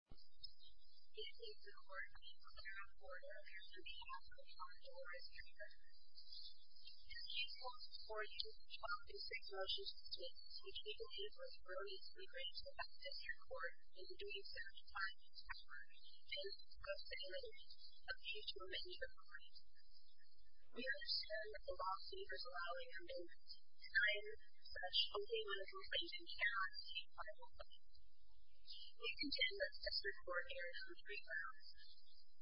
It is an honor for me to sit here on the board of directors on behalf of the Juan Dolores Piper family. This case falls before you in six motions to date, which we believe was brilliantly crafted in your court in doing so in time and effort, and, most valiantly, a key to a many different ways. We understand that the law favors allowing amendments, and I am, as such, only one of those ladies in the hour to speak on this case. We contend that this report errs on three grounds.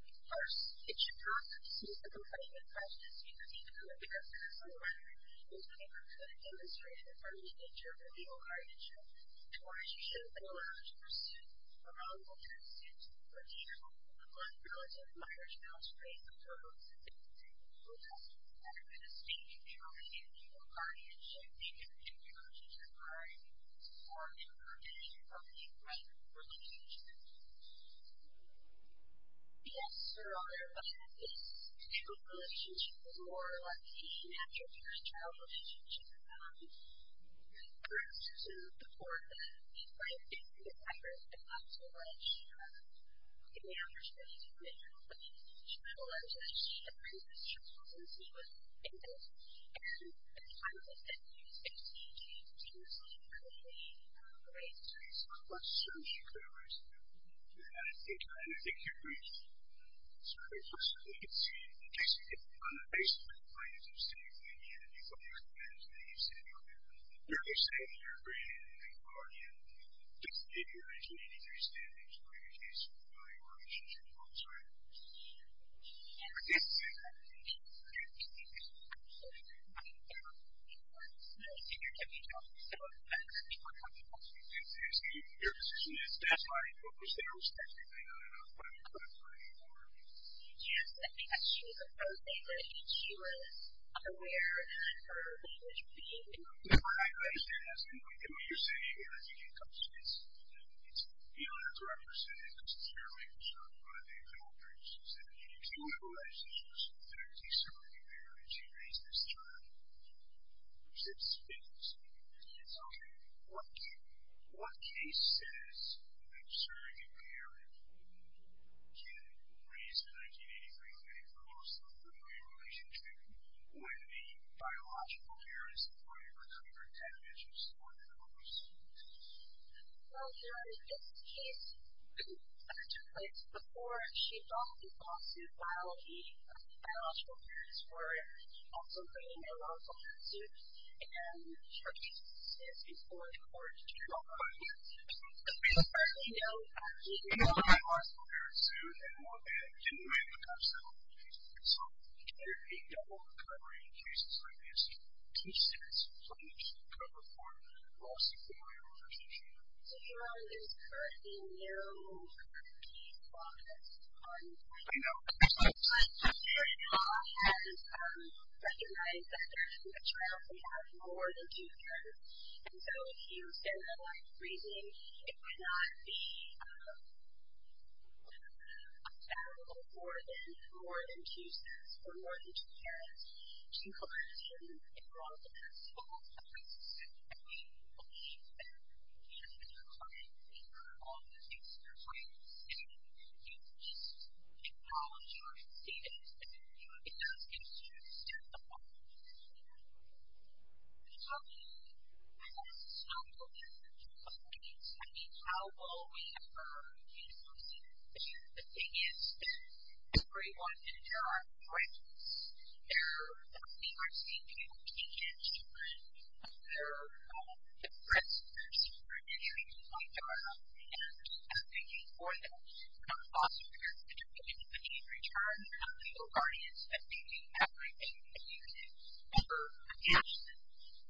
First, it should not constitute a complaint of prejudice, because even though it becomes a civil argument, those papers could have demonstrated the urgent nature of the legal guardianship, to which you should have been allowed to pursue, a wrongful consent, or the approval of a non-relative minor to help to raise the total incentive to take a legal test. Second, it is stated in the original legal guardianship that you have been privileged to provide more information about your wife's relationship to you. Yes, Your Honor, my wife is in a relationship with a lawyer, like any natural parent's child relationship. In reference to the court, my wife did see the papers, and not so much, in the understanding of the criminal case. She realized that she had raised this child since he was a kid, and I would say that she was not clearly raised that way. I would assume she could have raised it that way, and I think you're right. It's a great question. I think it's basically on the basis of the plaintiff's statement that you had to be fully committed to the use of your legal guardianship. You're only saying that you're bringing in a legal guardian to give you a 1983 standard for your case and to provide more information to the courts, right? Yes, Your Honor. I think that's a very good point, Your Honor. I think that's a very good point. I think that's a good point, Your Honor. I think that's a good point, Your Honor. Your position is satisfied, but was there a specific thing that the plaintiff had to bring in for you? Yes, I think that she was aware of the language being used. No, I understand. I understand what you're saying, and I think it comes with, it's beyond a direct personal and personal care relationship, but I think it all brings together. Do you realize that she was in fact a surrogate parent when she raised this child? Yes, I do. Okay. What case says that a surrogate parent can raise a 1983 lady for most of the family relationship when the biological parent is employed for another 10 inches more than the mother's surrogate parent? Well, Your Honor, I think that's a good point. Before she adopted Boston Biology, the biological parents were also raised in a law-enforcing zoo, and her case is before the court. Oh, okay. But we don't know that. We don't know that law-enforcing zoos and law-enforcing gynecological centers have a case-by-case ratio. Can there be double recovery in cases like this? Two steps, one each, to cover for most of the family relationship? Your Honor, there's currently no case law that's on the table. I'm sorry. The law has recognized that a child can have more than two parents, and so if you extend the life of raising, it would not be allowable for more than two steps for more than two parents to collect and enroll in that school. I think that we believe that, as a society, we have all the things we're trying to say. It's just technology. We don't see it. It doesn't get used. It doesn't happen. It doesn't happen. So, I don't believe that there's a case-by-case ratio. I mean, how well we have a case-by-case ratio, the thing is that everyone and there are threats. We are seeing people taken to prison. There are threats to their security, to their job, and I'm thinking for them, foster care, particularly if they need return, legal guardians, I'm thinking everything that you can ever imagine.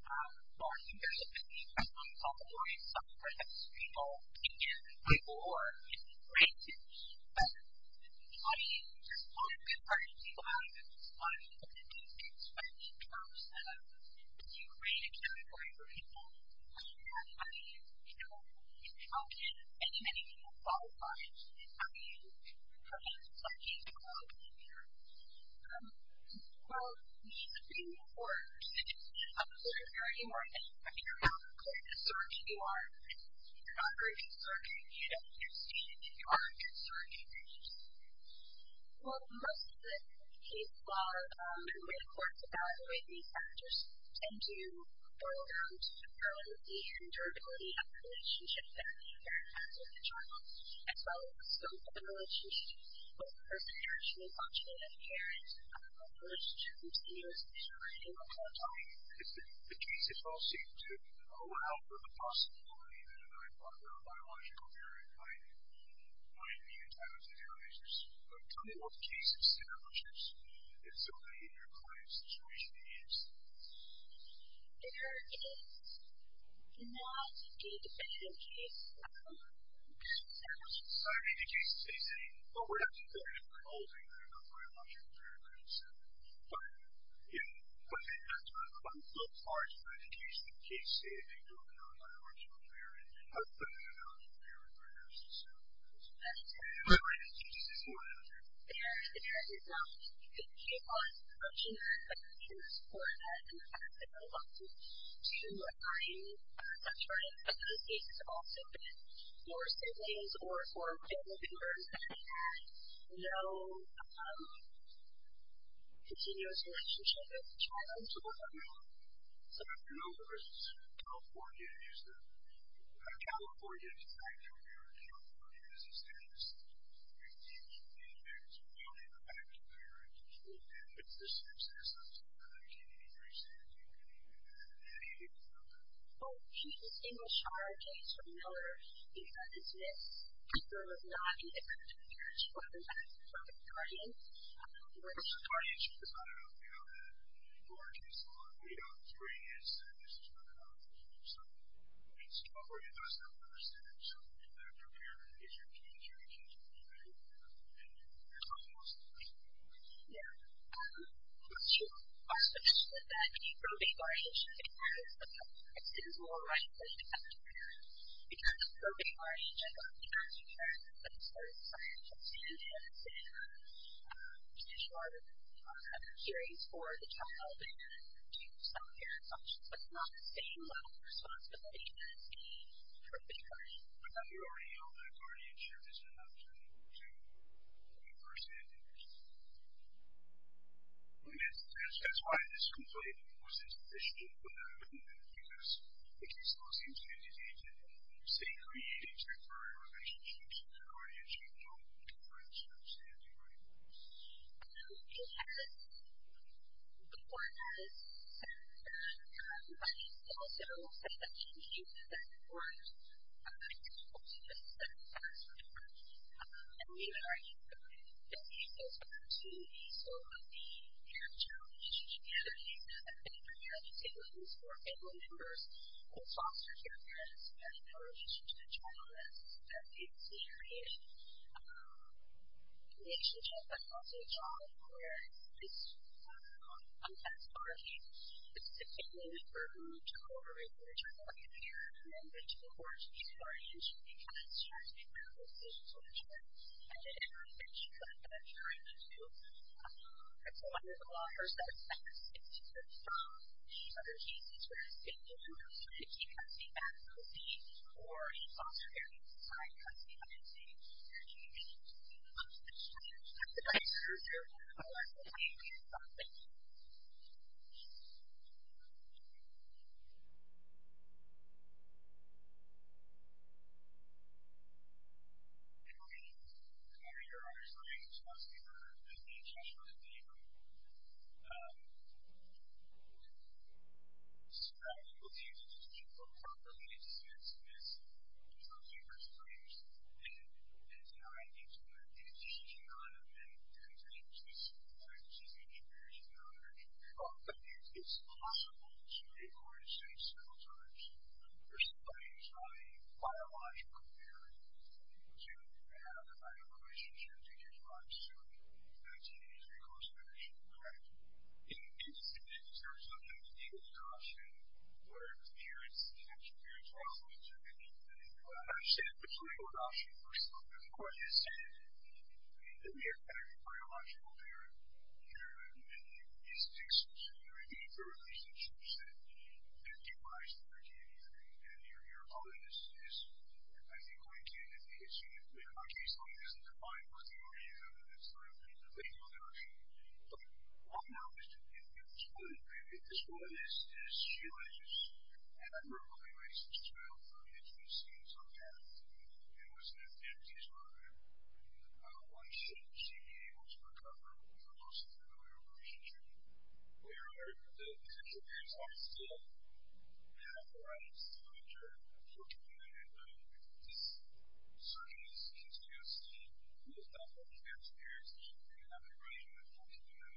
Law enforcement, people who are on top of lawyers, subprime justice people, people who are in prisons. I mean, there's a lot of good parts of people out there. There's a lot of good things to expect in terms of do you create a category for people? How can many, many people qualify? How do you prevent a floodgate from opening there? Well, it's a pretty important situation. I'm a lawyer. If you're a lawyer, I mean, you're not a good surgeon. You're not a very good surgeon. Well, most of the cases, the way the courts evaluate these factors tend to boil down to the permanency and durability of the relationship that a parent has with the child, as well as the scope of the relationship with the person they're actually functioning as a parent. The relationship continues for a very long time. The cases all seem to allow for the possibility that a very popular biological parent might be entitled to damages. Tell me what the case establishes in so many of your clients' situations. There is not a definitive case. There's not a definitive case to say anything, but we're not talking about anything that a biological parent could have said. But, you know, I think that's one of the most important parts of an educational case is that you don't know how much of a parent they are, and how much of a parent they are as a child. That's right. And there is not a definitive law that's approaching that, but we can support that in the facts if we want to, to find such a case. I think it's also been for siblings or for family members that have had no continuous relationship with the child for a long time. So, in other words, California is the... California is back to America. California is established. And there's really no back to America. And if the substance of that can be re-established, you can do that. Any of you know that? Well, the English child case for Miller is that it's been confirmed that not even two years before the death of the guardian. The guardianship is not enough. You know that. And for our case law, we don't agree as to whether this is a child case. So, it's not for us to understand. So, if you're a parent, if you're a teenager, you can't just leave it at that. And there's nothing else to say. Yeah. I'm sure. I just want to add that any probate barriers should be added to the child case. This is more like a test. Because the probate barriers are going to be considered by the state and the other states to ensure that the child has a series for the child and to solve their assumptions. It's not the same level of responsibility as the probate barrier. I thought you already know that guardianship is not enough to enforce anti-abuse. Yes. That's why this complaint was initially put out in the middle, because the case law seems to indicate that the state created temporary relationships and guardianship don't enforce anti-abuse. It has, before it has, said that it might also say that any youth that weren't able to visit their foster parents and neither are youth that need those opportunities. So, the parent-child relationship and the other thing that the state created was for family members who fostered their parents and in relation to the child that they've created, the relationship, but also the child, where it's, you know, as a guardian, it's significantly more important to co-operate with the child than to enforce the guardianship because she has to make her own decisions for the child and that everything that she could have done during the youth has to go under the law. First, that affects if the child, in other cases, were able to keep up the advocacy for a foster parent because the advocacy changes schools from the state to the privacy of their own corrected participants. It means that again, that there are certain responsibilities that they have to have to be a part of. So, there are people that go to the state for a lot of different services especially for students and they're denied the opportunity to go out and make different decisions based on their decision-making experience and knowledge. It's possible to go to the state several times for somebody who's not a biological parent to have a biological relationship with your child so that's an easy course of action. Correct. In the state, in terms of the legal option, what are the parents that experience this problem? I would say the legal option first of all because the court has said that we have a biological parent who is exclusively for relationships that have been revised over time and your audience is, I think, going to an issue that in my case doesn't define what the issue is under this legal option. But, one option is to have your child introduced to someone who is an educational learner and one should be able to recover from the loss of familial relationship where the potential parents are still having the right to enjoy a 14 minute conversation with their children. I'm not sure that is way to go but I think that is the best option that we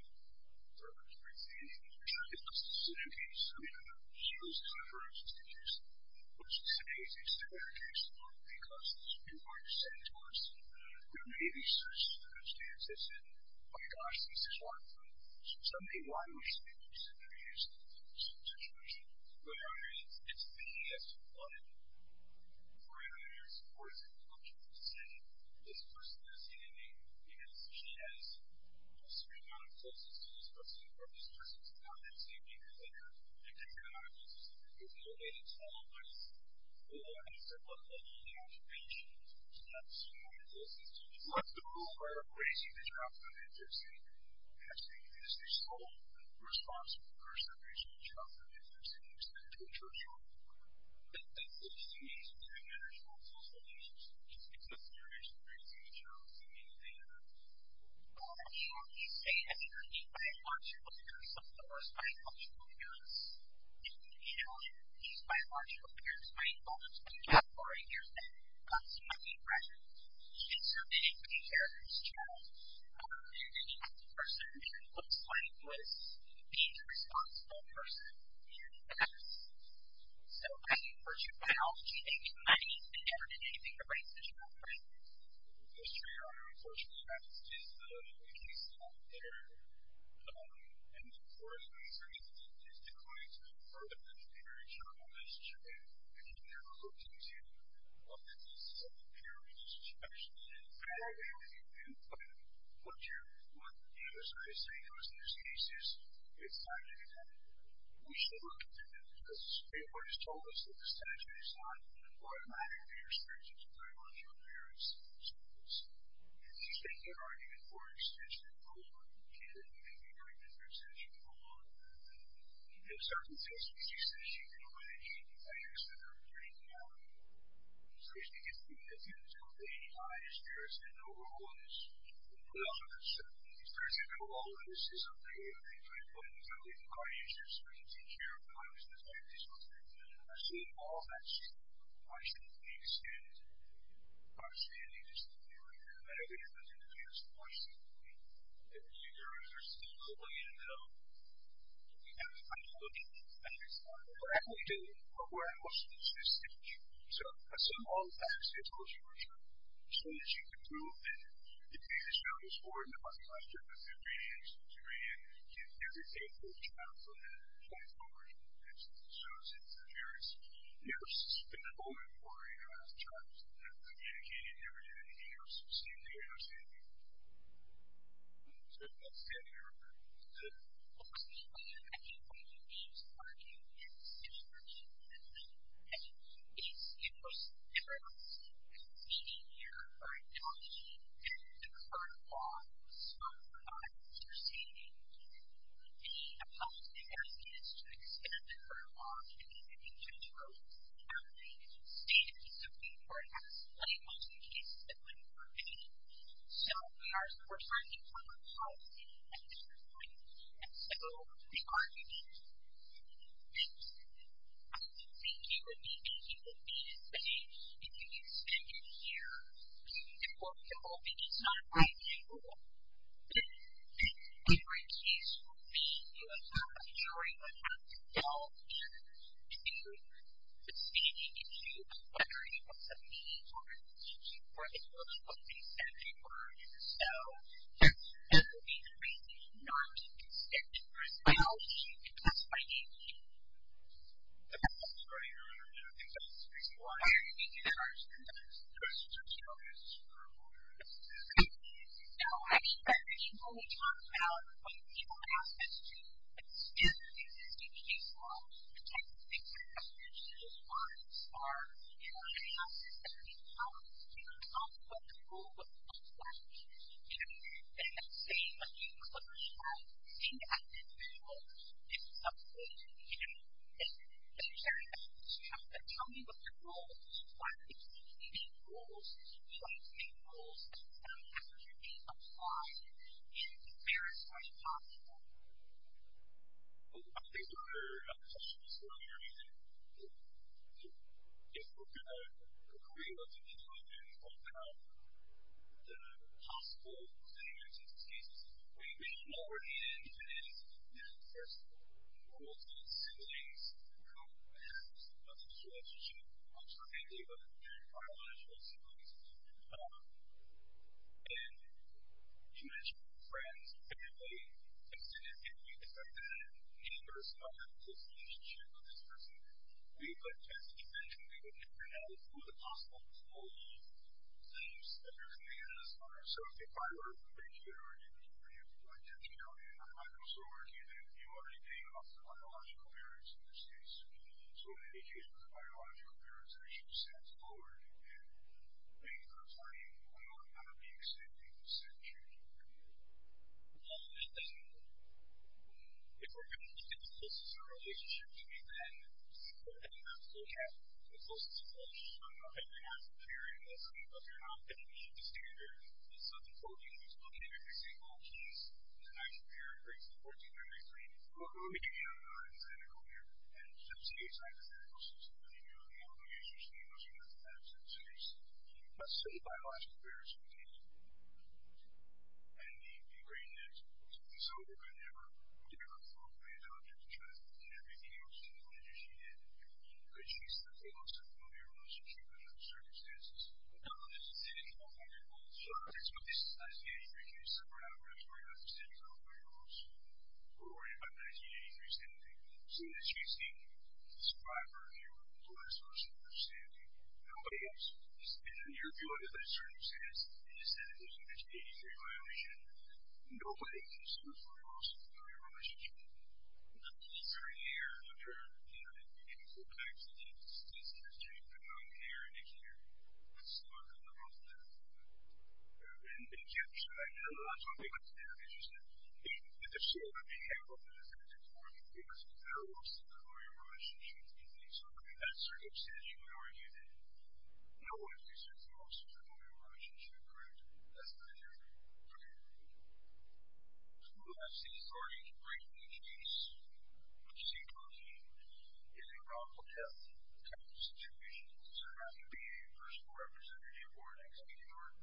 have. There are many options that we can do. we have. I think that is the best option that we have. I think that is the best option. I think the best option. I think that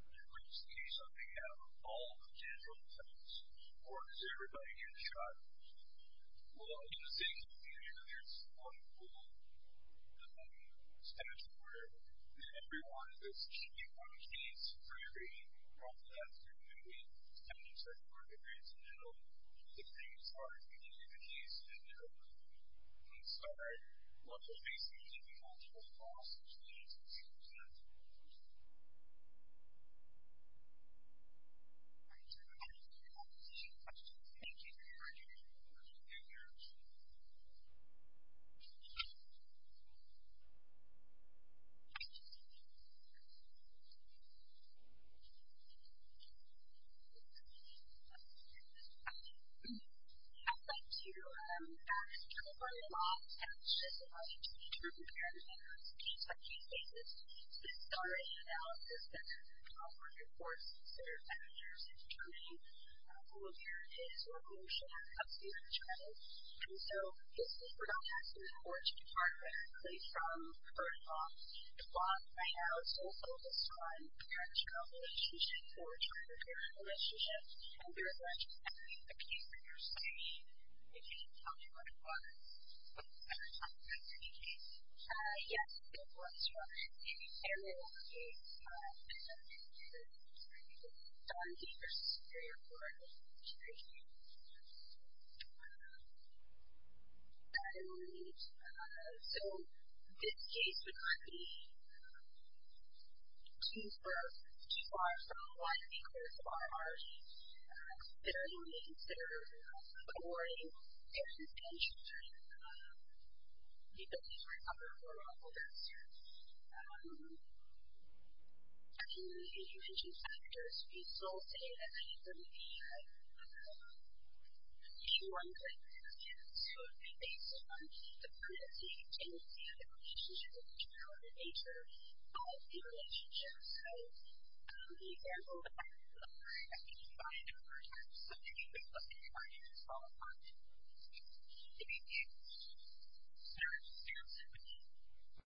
is the best option. So this case would not be too far from what we would like to do. I think that is the best option. I think that is the best option. I think that is the best option. I think that is the best option.